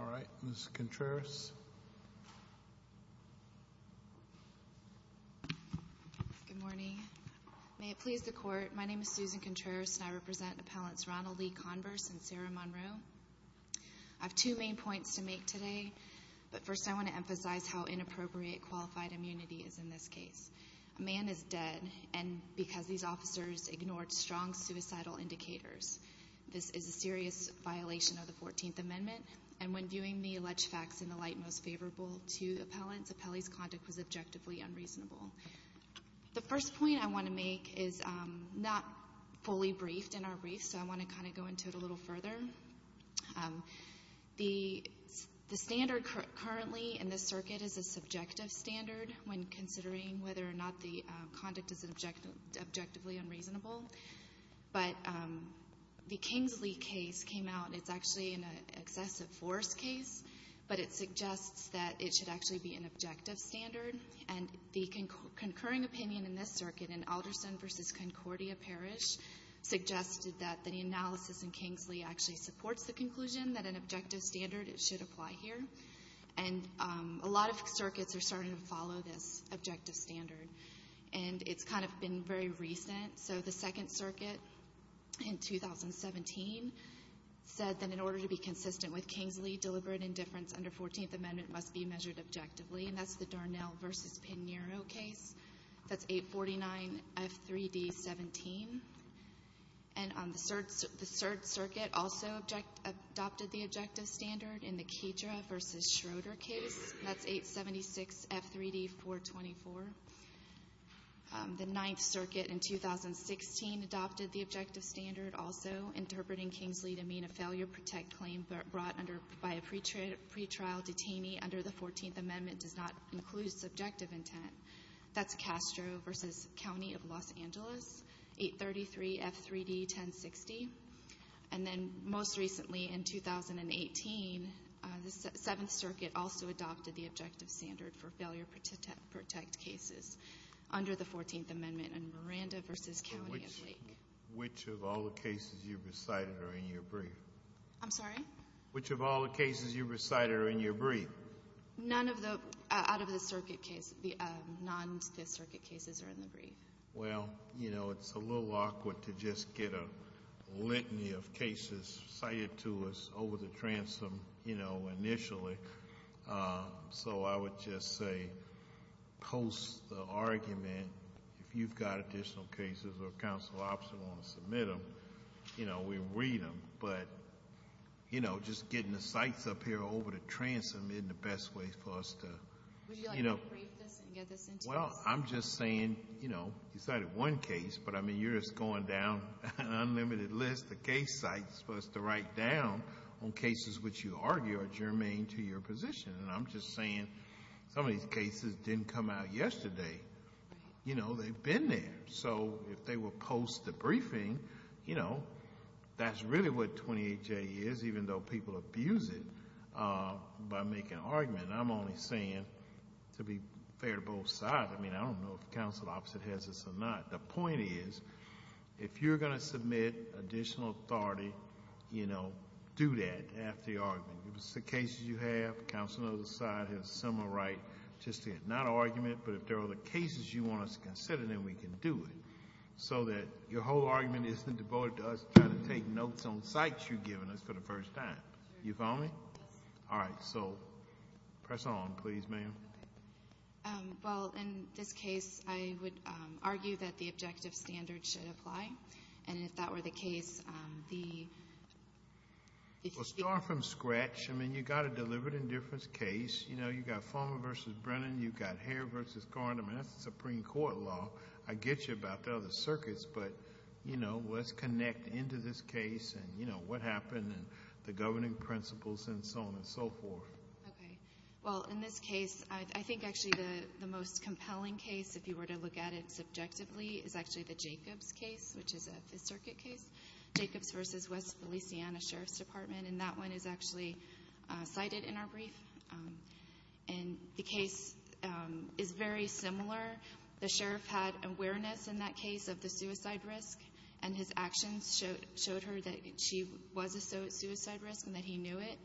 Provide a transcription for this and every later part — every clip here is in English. all right, Ms. Contreras. Good morning. May it please the court, my name is Susan Contreras and I represent Appellants Ronald E. Converse and Sarah Monroe. I have two main points to make today, but first I want to emphasize how inappropriate qualified immunity is in this case. A man is dead because these officers ignored strong suicidal indicators. This is a serious violation of the 14th Amendment, and when viewing the alleged facts in the light most favorable to appellants, appellee's conduct was objectively unreasonable. The first point I want to make is not fully briefed in our brief, so I want to kind of go into it a little further. The standard currently in this circuit is a subjective standard when considering whether or not the conduct is objectively unreasonable, but the Kingsley case came out and it's actually an excessive force case, but it suggests that it should actually be an objective standard, and the concurring opinion in this circuit in Alderson v. Concordia Parish suggested that the analysis in Kingsley actually supports the conclusion that an objective standard should apply here, and a lot of circuits are starting to follow this objective standard, and it's kind of been very recent, so the Second Circuit in 2017 said that in order to be consistent with Kingsley deliberate indifference under 14th Amendment, it should be objectively, and that's the Darnell v. Pinheiro case. That's 849F3D17, and the Third Circuit also adopted the objective standard in the Kedra v. Schroeder case, and that's 876F3D424. The Ninth Circuit in 2016 adopted the objective standard also, interpreting Kingsley to mean a failure-protect claim brought by a pretrial detainee under the 14th Amendment does not include subjective intent. That's Castro v. County of Los Angeles, 833F3D1060, and then most recently in 2018, the Seventh Circuit also adopted the objective standard for failure-protect cases under the 14th Amendment in Miranda v. County of Lake. Which of all the cases you recited are in your brief? I'm sorry? Which of all the cases you recited are in your brief? None of the, out of the circuit cases, the non-Circuit cases are in the brief. Well, you know, it's a little awkward to just get a litany of cases cited to us over the transom, you know, initially, so I would just say post the argument, if you've got additional cases or counsel opposite want to submit them, you know, we read them, but, you know, just getting the sites up here over the transom isn't the best way for us to, you know... Would you like me to brief this and get this into us? Well, I'm just saying, you know, you cited one case, but I mean, you're just going down an unlimited list of case sites for us to write down on cases which you argue are germane to your position, and I'm just saying some of these cases didn't come out yesterday. You know, they've been there, so if they will post the briefing, you know, that's really what 28J is, even though people abuse it by making an argument, and I'm only saying, to be fair to both sides, I mean, I don't know if counsel opposite has this or not. The point is, if you're going to submit additional authority, you know, do that after the argument. If it's the cases you have, counsel on the other side has a similar right just to not make an argument, but if there are the cases you want us to consider, then we can do it, so that your whole argument isn't devoted to us trying to take notes on sites you've given us for the first time. You follow me? Yes. All right. So, press on, please, ma'am. Well, in this case, I would argue that the objective standard should apply, and if that were the case, the... Well, starting from scratch, I mean, you've got a deliberate indifference case. You know, you've got Farmer v. Brennan. You've got Hare v. Gardner. I mean, that's the Supreme Court law. I get you about the other circuits, but, you know, let's connect into this case and, you know, what happened and the governing principles and so on and so forth. Okay. Well, in this case, I think, actually, the most compelling case, if you were to look at it subjectively, is actually the Jacobs case, which is a Fifth Circuit case, Jacobs v. West Feliciana Sheriff's Department, and that one is actually cited in our brief. And the case is very similar. The sheriff had awareness in that case of the suicide risk, and his actions showed her that she was at suicide risk and that he knew it.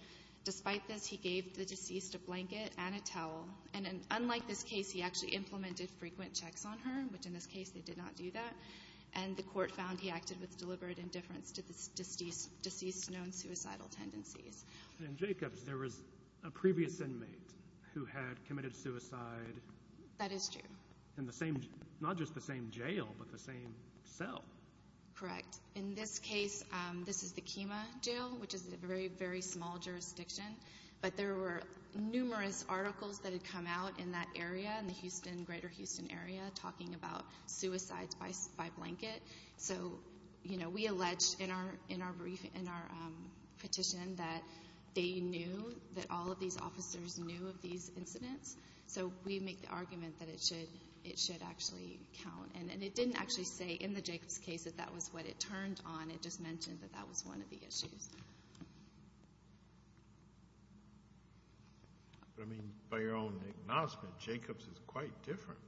Despite this, he gave the deceased a blanket and a towel. And unlike this case, he actually implemented frequent checks on her, which, in this case, they did not do that. And the court found he acted with deliberate indifference to the deceased's known suicidal tendencies. In Jacobs, there was a previous inmate who had committed suicide. That is true. In the same, not just the same jail, but the same cell. Correct. In this case, this is the Kemah Jail, which is a very, very small jurisdiction. But there were numerous articles that had come out in that area, in the Houston, greater Houston area, talking about suicides by blanket. So, you know, we alleged in our petition that they knew, that all of these officers knew of these incidents. So we make the argument that it should actually count. And it didn't actually say in the Jacobs case that that was what it turned on. It just mentioned that that was one of the issues. But, I mean, by your own acknowledgment, Jacobs is quite different.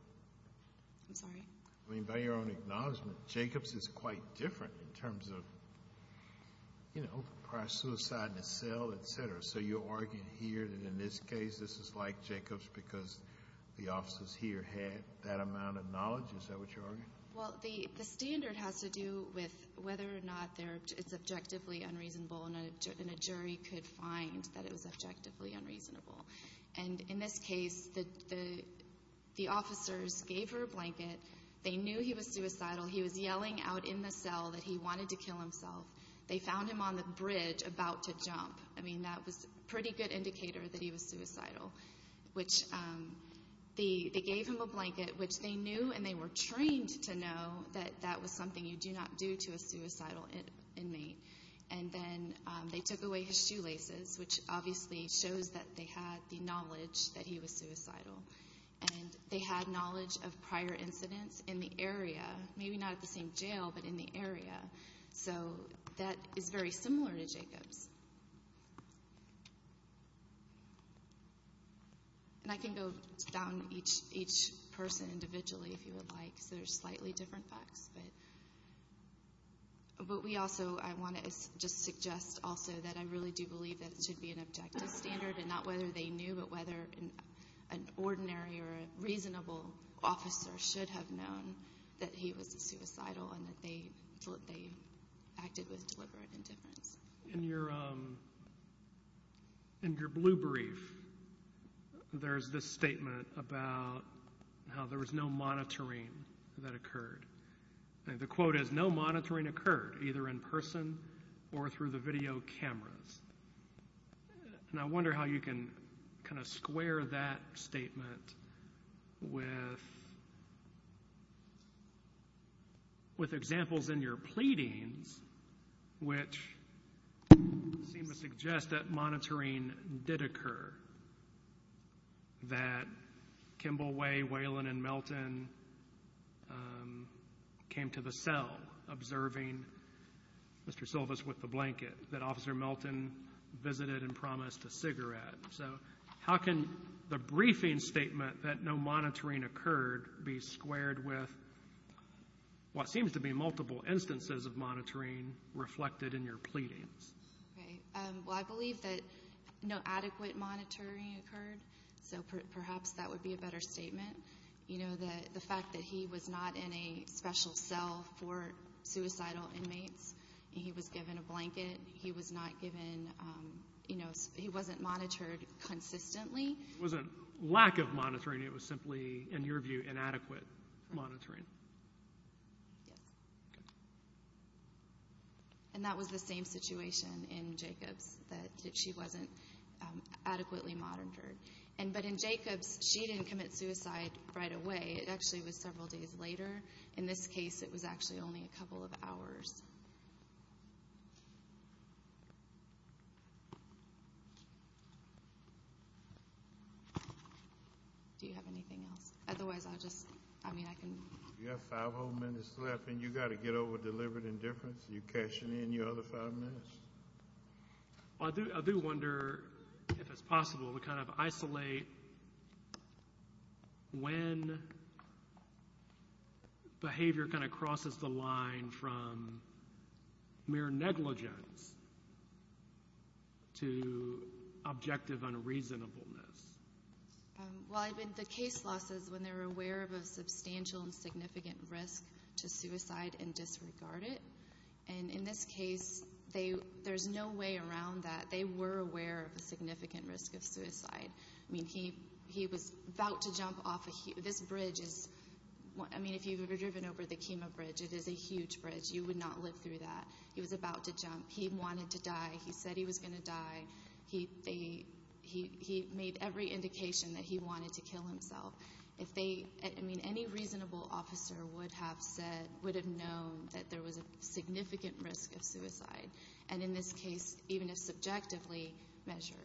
I'm sorry? I mean, by your own acknowledgment, Jacobs is quite different in terms of, you know, prior suicide in a cell, et cetera. So you're arguing here that in this case, this is like Jacobs because the officers here had that amount of knowledge? Is that what you're arguing? Well, the standard has to do with whether or not it's objectively unreasonable and a jury could find that it was objectively unreasonable. And in this case, the officers gave her a blanket. They knew he was suicidal. He was yelling out in the cell that he wanted to kill himself. They found him on the bridge about to jump. I mean, that was a pretty good indicator that he was suicidal, which they gave him a blanket, which they knew and they were trained to know that that was something you do not do to a suicidal inmate. And then they took away his shoelaces, which obviously shows that they had the knowledge that he was suicidal. And they had knowledge of prior incidents in the area, maybe not at the same jail, but in the area. So that is very similar to Jacobs. And I can go down each person individually, if you would like, because they're slightly different facts. But we also, I want to just suggest also that I really do believe that it should be an objective standard and not whether they knew, but whether an ordinary or reasonable officer should have known that he was suicidal and that they acted with deliberate indifference. In your blue brief, there's this statement about how there was no monitoring occurred, either in person or through the video cameras. And I wonder how you can kind of square that statement with examples in your pleadings, which seem to suggest that monitoring did occur, that Kimball Way, Waylon, and Melton came to the cell observing Mr. Silvas with the blanket, that Officer Melton visited and promised a cigarette. So how can the briefing statement that no monitoring occurred be squared with what seems to be multiple instances of monitoring reflected in your pleadings? Well, I believe that no adequate monitoring occurred. So perhaps that would be a better statement. You know, the fact that he was not in a special cell for suicidal inmates, he was given a blanket, he was not given, you know, he wasn't monitored consistently. It wasn't lack of monitoring, it was simply, in your view, inadequate monitoring. Yes. Okay. And that was the same situation in Jacobs, that she wasn't adequately monitored. But in Jacobs, she didn't commit suicide right away. It actually was several days later. In this case, it was actually only a couple of hours. Do you have anything else? Otherwise, I'll just, I mean, I can. You have five whole minutes left, and you've got to get over deliberate indifference. You're cashing in your other five minutes. I do wonder if it's possible to kind of isolate when behavior kind of crosses the line from mere negligence to objective unreasonableness. Well, the case law says when they're aware of a substantial and significant risk to suicide and disregard it. And in this case, there's no way around that. They were aware of a significant risk of suicide. I mean, he was about to jump off a, this bridge is, I mean, if you've ever driven over the Kemah Bridge, it is a huge bridge. You would not live through that. He was about to jump. He wanted to die. He said he was going to die. He made every indication that he wanted to kill himself. If they, I mean, any reasonable officer would have said, would have known that there was a significant risk of suicide. And in this case, even if subjectively measured,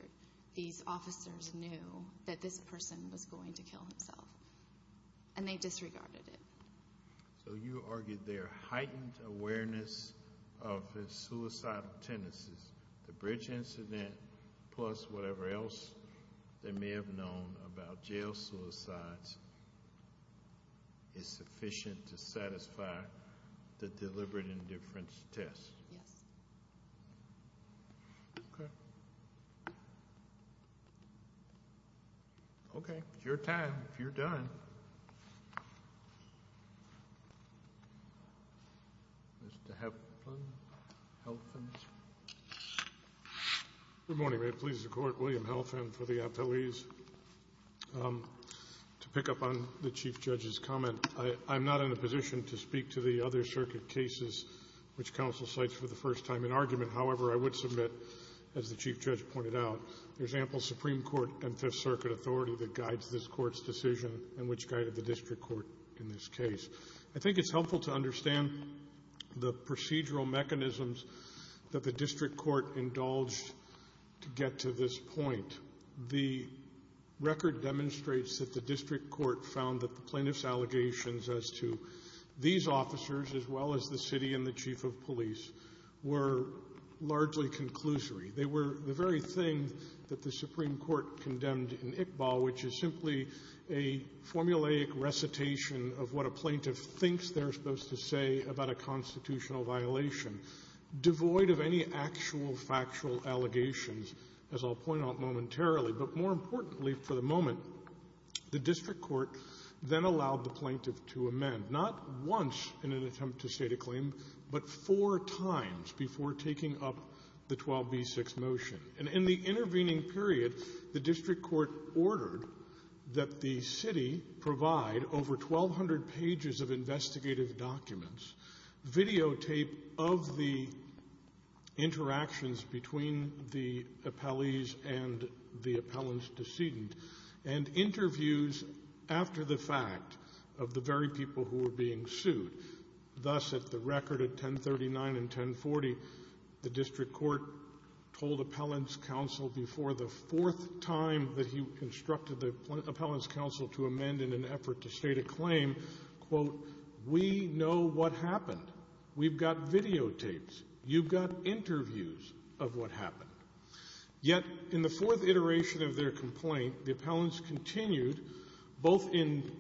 these officers knew that this person was going to kill himself. And they disregarded it. So you argued their heightened awareness of suicidal tendencies. The bridge incident, plus whatever else they may have known about jail suicides, is sufficient to satisfy the deliberate indifference test. Yes. Okay. Okay. It's your time. If you're done. Mr. Heflin. Good morning. It pleases the Court. William Heflin for the appellees. To pick up on the Chief Judge's comment, I'm not in a position to speak to the other circuit cases which counsel cites for the first time in argument. However, I would submit, as the Chief Judge pointed out, there's ample Supreme Court and Fifth Circuit authority that guides this and which guided the district court in this case. I think it's helpful to understand the procedural mechanisms that the district court indulged to get to this point. The record demonstrates that the district court found that the plaintiff's allegations as to these officers, as well as the city and the chief of police, were largely conclusory. They were the very thing that the Supreme Court condemned in Iqbal, which is simply a formulaic recitation of what a plaintiff thinks they're supposed to say about a constitutional violation, devoid of any actual factual allegations, as I'll point out momentarily. But more importantly for the moment, the district court then allowed the plaintiff to amend, not once in an attempt to state a claim, but four times before taking up the 12b-6 motion. And in the intervening period, the district court ordered that the city provide over 1,200 pages of investigative documents, videotape of the interactions between the appellees and the appellant's decedent, and interviews after the fact of the very people who were being sued. Thus, at the record at 1039 and 1040, the district court told appellant's counsel before the fourth time that he constructed the appellant's counsel to amend in an effort to state a claim, quote, we know what happened. We've got videotapes. You've got interviews of what happened. Yet in the fourth iteration of their complaint, the appellants continued, both in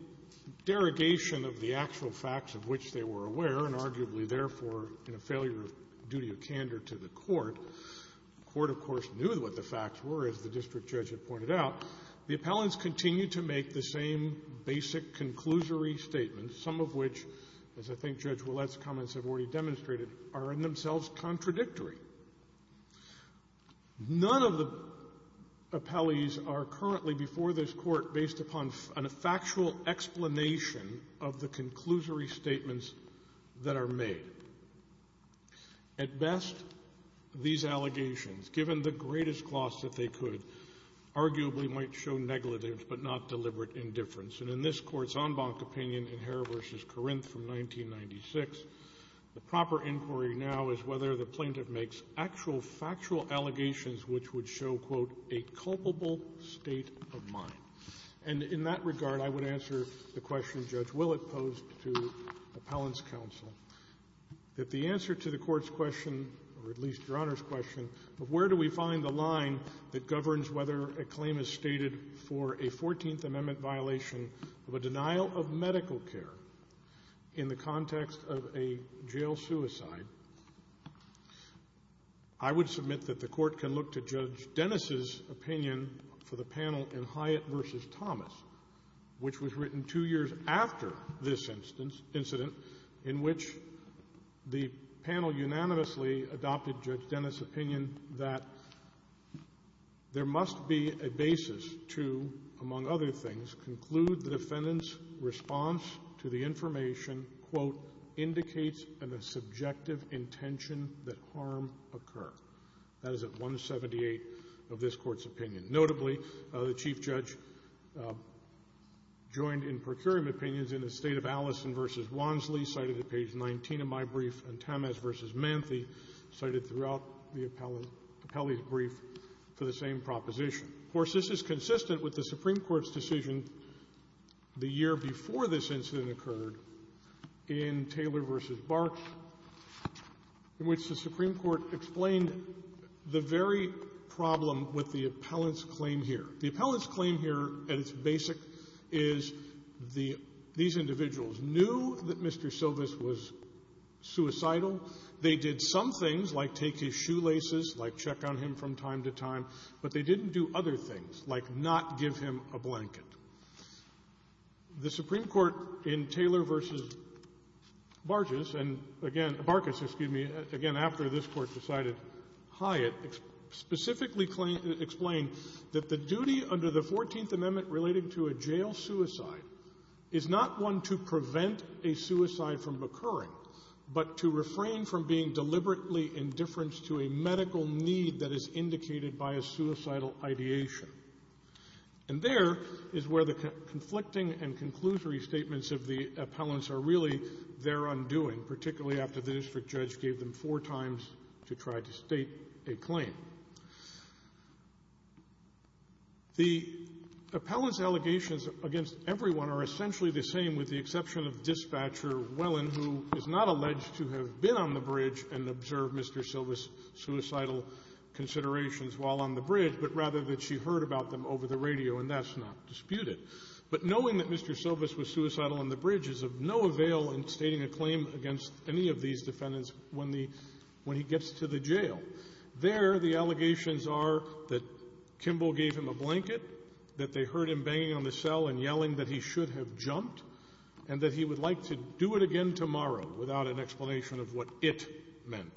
derogation of the actual facts of which they were aware, and arguably, therefore, in a failure of duty of candor to the court. The court, of course, knew what the facts were, as the district judge had pointed out. The appellants continued to make the same basic conclusory statements, some of which, as I think Judge Ouellette's comments have already demonstrated, are in themselves contradictory. None of the appellees are currently before this Court based upon a factual explanation of the conclusory statements that are made. At best, these allegations, given the greatest gloss that they could, arguably might show neglatives but not deliberate indifference. And in this Court's en banc opinion in Herr v. Corinth from 1996, the proper inquiry now is whether the plaintiff may have been making actual factual allegations which would show, quote, a culpable state of mind. And in that regard, I would answer the question Judge Ouellette posed to appellants' counsel, that the answer to the Court's question, or at least Your Honor's question, of where do we find the line that governs whether a claim is stated for a 14th Amendment violation of a denial of medical care in the I would submit that the Court can look to Judge Dennis' opinion for the panel in Hyatt v. Thomas, which was written two years after this incident, in which the panel unanimously adopted Judge Dennis' opinion that there must be a basis to, among other things, conclude the defendant's response to the information, quote, indicates a subjective intention that harm occur. That is at 178 of this Court's opinion. Notably, the Chief Judge joined in procuring opinions in the State of Allison v. Wansley, cited at page 19 of my brief, and Tamas v. Manthe cited throughout the appellee's brief for the same proposition. Of course, this is consistent with the Supreme Court's decision the year before this incident occurred in Taylor v. Barks, in which the Supreme Court explained the very problem with the appellant's claim here. The appellant's claim here, at its basic, is the — these individuals knew that Mr. Silvis was suicidal. They did some things, like take his shoelaces, like check on him from time to time, but they didn't do other things, like not give him a blanket. The Supreme Court, in Taylor v. Barges, and again — Barkes, excuse me — again, after this Court decided Hyatt, specifically explained that the duty under the Fourteenth Amendment relating to a jail suicide is not one to prevent a suicide from occurring, but to refrain from being deliberately indifferent to a medical need that is indicated by a suicidal ideation. And there is where the conflicting and conclusory statements of the appellants are really their undoing, particularly after the district judge gave them four times to try to state a claim. The appellant's allegations against everyone are essentially the same, with the exception of Dispatcher Wellen, who is not alleged to have been on the bridge and observed Mr. Silvis' suicidal considerations while on the bridge, but rather that she heard about them over the radio, and that's not disputed. But knowing that Mr. Silvis was suicidal on the bridge is of no avail in stating a claim against any of these defendants when the — when he gets to the jail. There, the allegations are that Kimball gave him a blanket, that they heard him banging on the cell and yelling that he should have jumped, and that he would like to do it again tomorrow without an explanation of what it meant.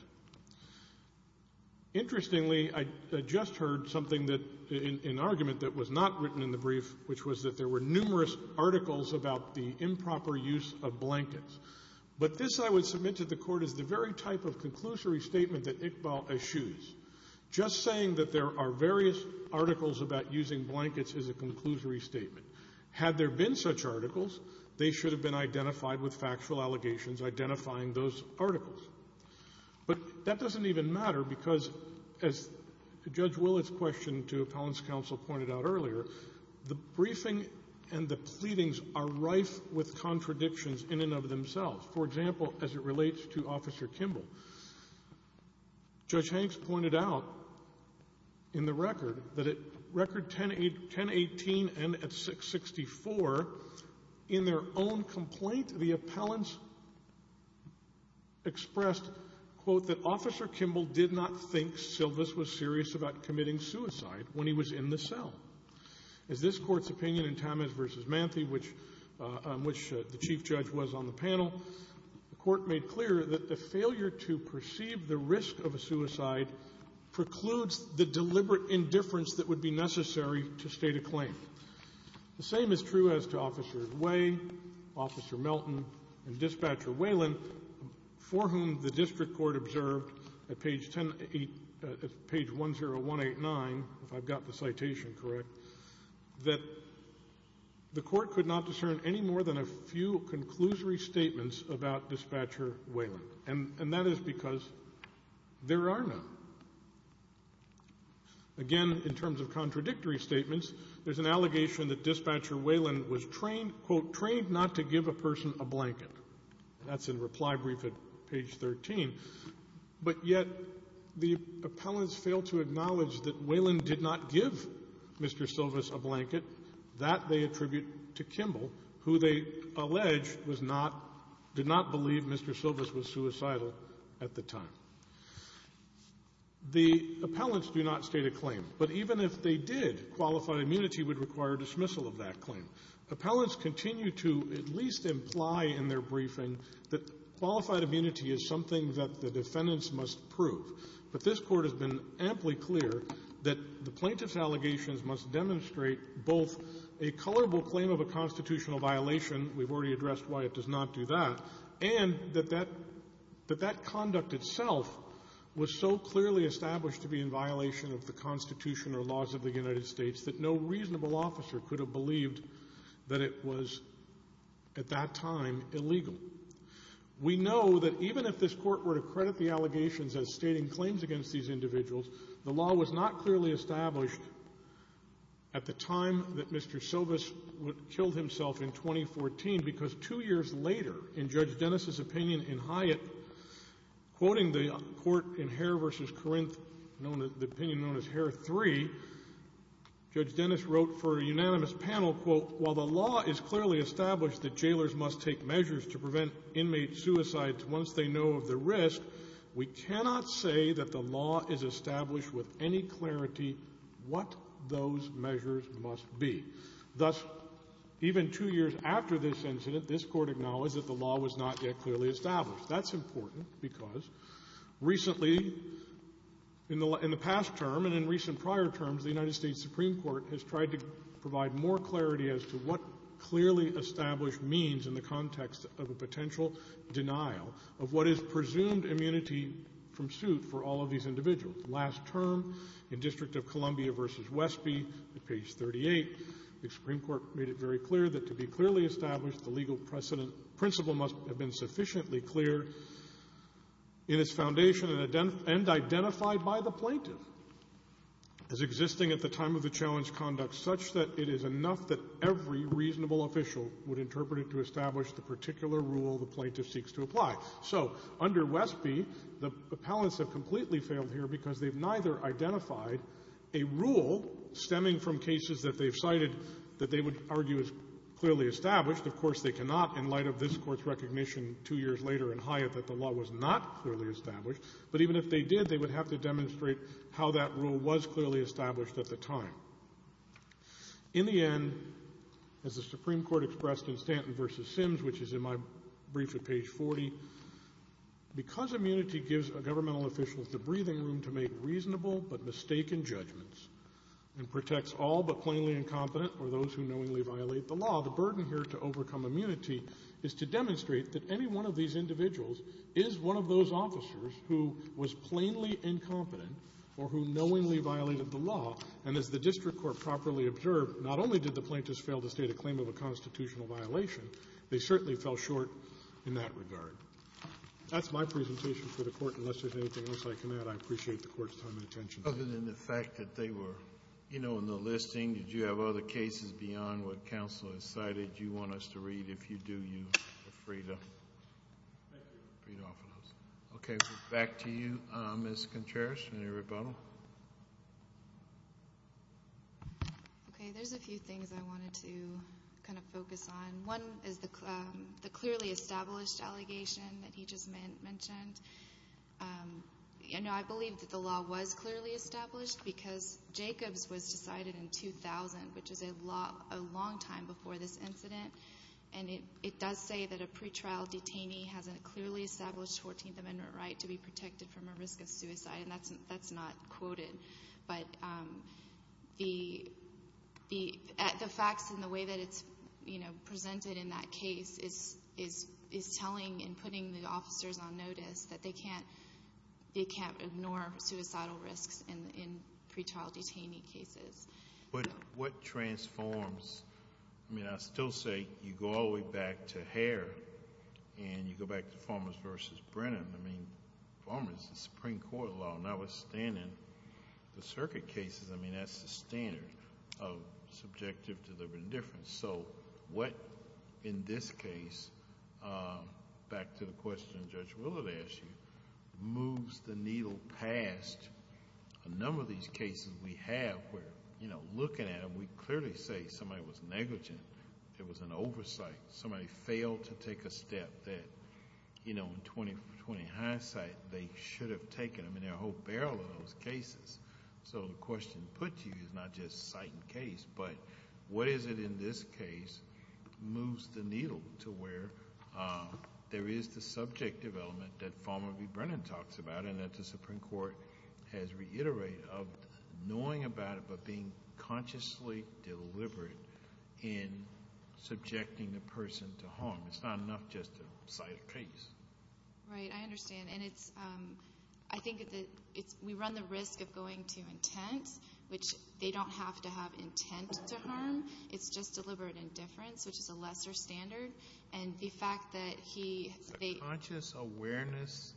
Interestingly, I just heard something that — an argument that was not written in the brief, which was that there were numerous articles about the improper use of blankets. But this, I would submit to the Court, is the very type of conclusory statement that Iqbal eschews. Just saying that there are various articles about using blankets is a conclusory statement. Had there been such articles, they should have been identified with factual allegations identifying those articles. But that doesn't even matter because, as Judge Willett's question to Appellant's Counsel pointed out earlier, the briefing and the pleadings are rife with contradictions in and of themselves. For example, as it relates to Officer Kimball. Judge Hanks pointed out in the record that at Record 1018 and at 664, in their own complaint, the appellants expressed, quote, that Officer Kimball did not think Silvis was serious about committing suicide when he was in the cell. As this Court's opinion in Tamez v. Manthe, which the Chief Judge was on the panel, the Court made clear that the failure to perceive the risk of a suicide precludes the deliberate indifference that would be necessary to state a claim. The same is true as to Officers Way, Officer Melton, and Dispatcher Whelan, for whom the District Court observed at page 10189, if I've got the citation correct, that the Court could not discern any more than a few conclusory statements about Dispatcher Whelan. And that is because there are none. Again, in terms of contradictory statements, there's an allegation that Dispatcher Whelan was trained, quote, trained not to give a person a blanket. That's in reply brief at page 13. But yet the appellants failed to acknowledge that Whelan did not give Mr. Silvis a blanket. That they attribute to Kimball, who they allege was not – did not believe Mr. Silvis was suicidal at the time. The appellants do not state a claim. But even if they did, qualified immunity would require dismissal of that claim. Appellants continue to at least imply in their briefing that qualified immunity is something that the defendants must prove. But this Court has been amply clear that the plaintiff's allegations must demonstrate both a colorable claim of a constitutional violation – we've already addressed why it does not do that – and that that conduct itself was so clearly established to be in violation of the Constitution or laws of the United States that no reasonable officer could have believed that it was, at that time, illegal. We know that even if this Court were to credit the allegations as stating claims against these individuals, the law was not clearly established at the time that Mr. Two years later, in Judge Dennis' opinion in Hyatt, quoting the court in Hare v. Corinth, the opinion known as Hare 3, Judge Dennis wrote for a unanimous panel, quote, while the law is clearly established that jailers must take measures to prevent inmate suicides once they know of the risk, we cannot say that the law is established with any clarity what those measures must be. Thus, even two years after this incident, this Court acknowledged that the law was not yet clearly established. That's important because recently, in the past term and in recent prior terms, the United States Supreme Court has tried to provide more clarity as to what clearly established means in the context of a potential denial of what is presumed immunity from suit for all of these individuals. Last term, in District of Columbia v. Westby, at page 38, the Supreme Court made it very clear that to be clearly established, the legal precedent principle must have been sufficiently clear in its foundation and identified by the plaintiff as existing at the time of the challenge conduct such that it is enough that every reasonable official would interpret it to establish the particular rule the plaintiff failed here because they've neither identified a rule stemming from cases that they've cited that they would argue is clearly established. Of course, they cannot, in light of this Court's recognition two years later in Hyatt that the law was not clearly established, but even if they did, they would have to demonstrate how that rule was clearly established at the time. In the end, as the Supreme Court expressed in Stanton v. Sims, which is in my opinion the most important part of this case, the plaintiff has given all officials the breathing room to make reasonable but mistaken judgments and protects all but plainly incompetent or those who knowingly violate the law. The burden here to overcome immunity is to demonstrate that any one of these individuals is one of those officers who was plainly incompetent or who knowingly violated the law, and as the District Court properly observed, not only did the plaintiffs fail to state a claim of a constitutional violation, they certainly fell short in that regard. That's my presentation for the Court. Unless there's anything else I can add, I appreciate the Court's time and attention. Other than the fact that they were, you know, in the listing, did you have other cases beyond what counsel has cited you want us to read? If you do, you are free to read off of those. Okay. Back to you, Ms. Contreras. Any rebuttal? Okay. There's a few things I wanted to kind of focus on. One is the clearly established allegation that he just mentioned. I believe that the law was clearly established because Jacobs was decided in 2000, which is a long time before this incident, and it does say that a pretrial detainee has a clearly established 14th Amendment right to be protected from a risk of suicide, and that's not quoted. But the facts and the way that it's presented in that case is telling and putting the officers on notice that they can't ignore suicidal risks in pretrial detainee cases. But what transforms... I mean, I still say you go all the way back to Hare and you go back to Farmers v. Brennan. I mean, Farmers is a Supreme Court law, and I was standing... the circuit cases, I mean, that's the standard of subjective deliberate indifference. So what, in this case, back to the question Judge Willard asked you, moves the needle past a number of these cases we have where looking at them, we clearly say somebody was negligent. It was an oversight. Somebody failed to take a step that in 20 for 20 hindsight, they should have taken them. There are a whole barrel of those cases. So the question put to you is not just site and case, but what is it in this case moves the needle to where there is the subjective element that Farmers v. Brennan talks about and that the Supreme Court has reiterated of knowing about it but being consciously deliberate in subjecting the person to harm. It's not enough just to cite a case. Right. I understand. And it's... I think we run the risk of going to intent, which they don't have to have intent to harm. It's just deliberate indifference, which is a lesser standard. And the fact that he... It's a conscious awareness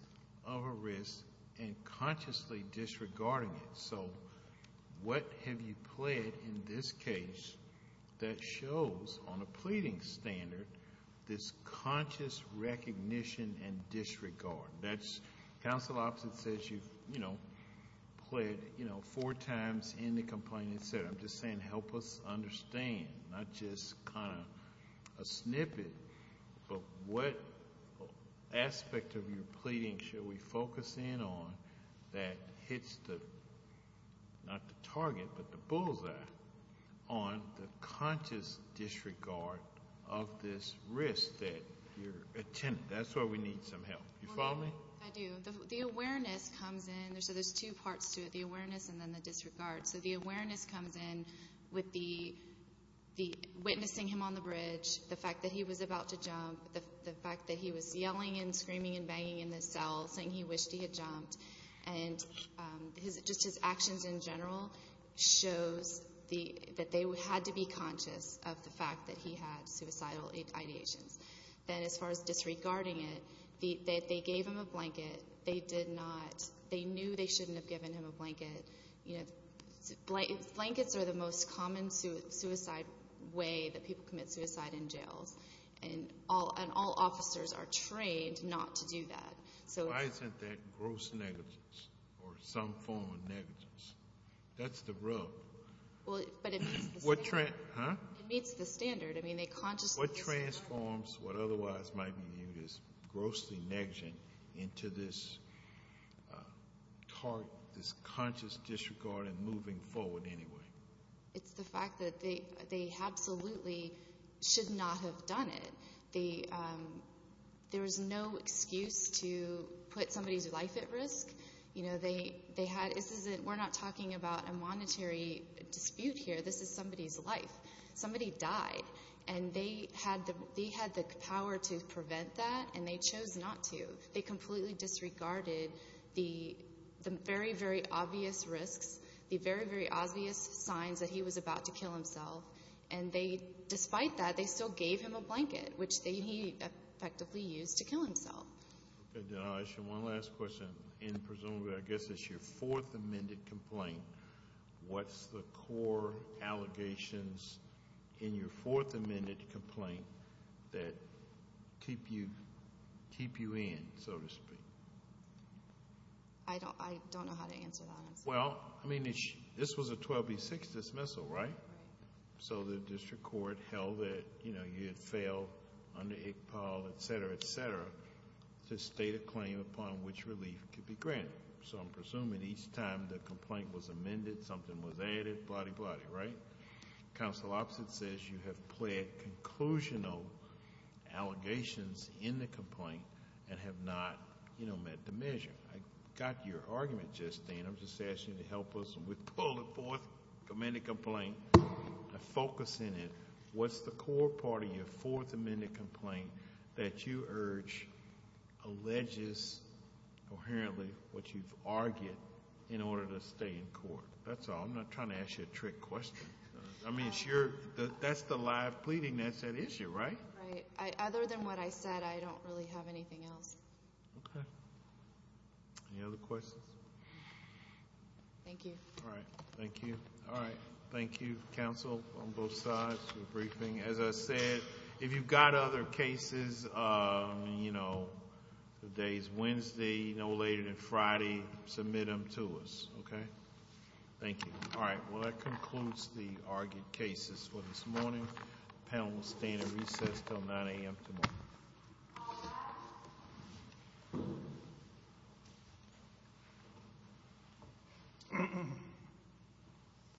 of a risk and consciously disregarding it. So what have you pled in this case that shows, on a pleading standard, this conscious recognition and disregard? That's... Counsel opposite says you've pled four times in the complaining standard. I'm just saying help us understand, not just kind of a snippet, but what aspect of your pleading should we focus in on that hits the... the highest risk that you're attending. That's why we need some help. You follow me? I do. The awareness comes in. So there's two parts to it, the awareness and then the disregard. So the awareness comes in with the witnessing him on the bridge, the fact that he was about to jump, the fact that he was yelling and screaming and banging in the cell, saying he wished he had jumped. And just his actions in general shows that they had to be conscious of the fact that he had suicidal ideations. Then as far as disregarding it, they gave him a blanket. They did not... they knew they shouldn't have given him a blanket. Blankets are the most common suicide way that people commit suicide in jails. And all officers are trained not to do that. Why isn't that gross negligence or some form of negligence? That's the rub. But it meets the standard. It meets the standard. What transforms what otherwise might be viewed as gross negligence into this conscious disregard and moving forward anyway? It's the fact that they absolutely should not have done it. We're not talking about a monetary dispute here. This is somebody's life. Somebody died, and they had the power to prevent that, and they chose not to. They completely disregarded the very, very obvious risks, the very, very obvious signs that he was about to kill himself. And despite that, they still gave him a blanket, which he effectively used to kill himself. Denial of issue. One last question. And presumably, I guess it's your fourth amended complaint. What's the core allegations in your fourth amended complaint that keep you in, so to speak? I don't know how to answer that. Well, I mean, this was a 12B6 dismissal, right? Right. So the district court held that, you know, you had failed under Iqbal, et cetera, et cetera, to state a claim upon which relief could be granted. So I'm presuming each time the complaint was amended, something was added. Blah-de-blah-de, right? Counsel opposite says you have pled conclusional allegations in the complaint and have not, you know, met the measure. I got your argument, Justine. I'm just asking you to help us. We pulled a fourth amended complaint. Focus in it. What's the core part of your fourth amended complaint that you urge alleges coherently what you've argued in order to stay in court? That's all. I'm not trying to ask you a trick question. I mean, that's the live pleading that's at issue, right? Right. Other than what I said, I don't really have anything else. Okay. Any other questions? Thank you. All right. Thank you. All right. Thank you, counsel, on both sides for the briefing. As I said, if you've got other cases, you know, the day's Wednesday, no later than Friday, submit them to us. Okay? Thank you. All right. Well, that concludes the argued cases for this morning. The panel will stay in recess until 9 a.m. tomorrow.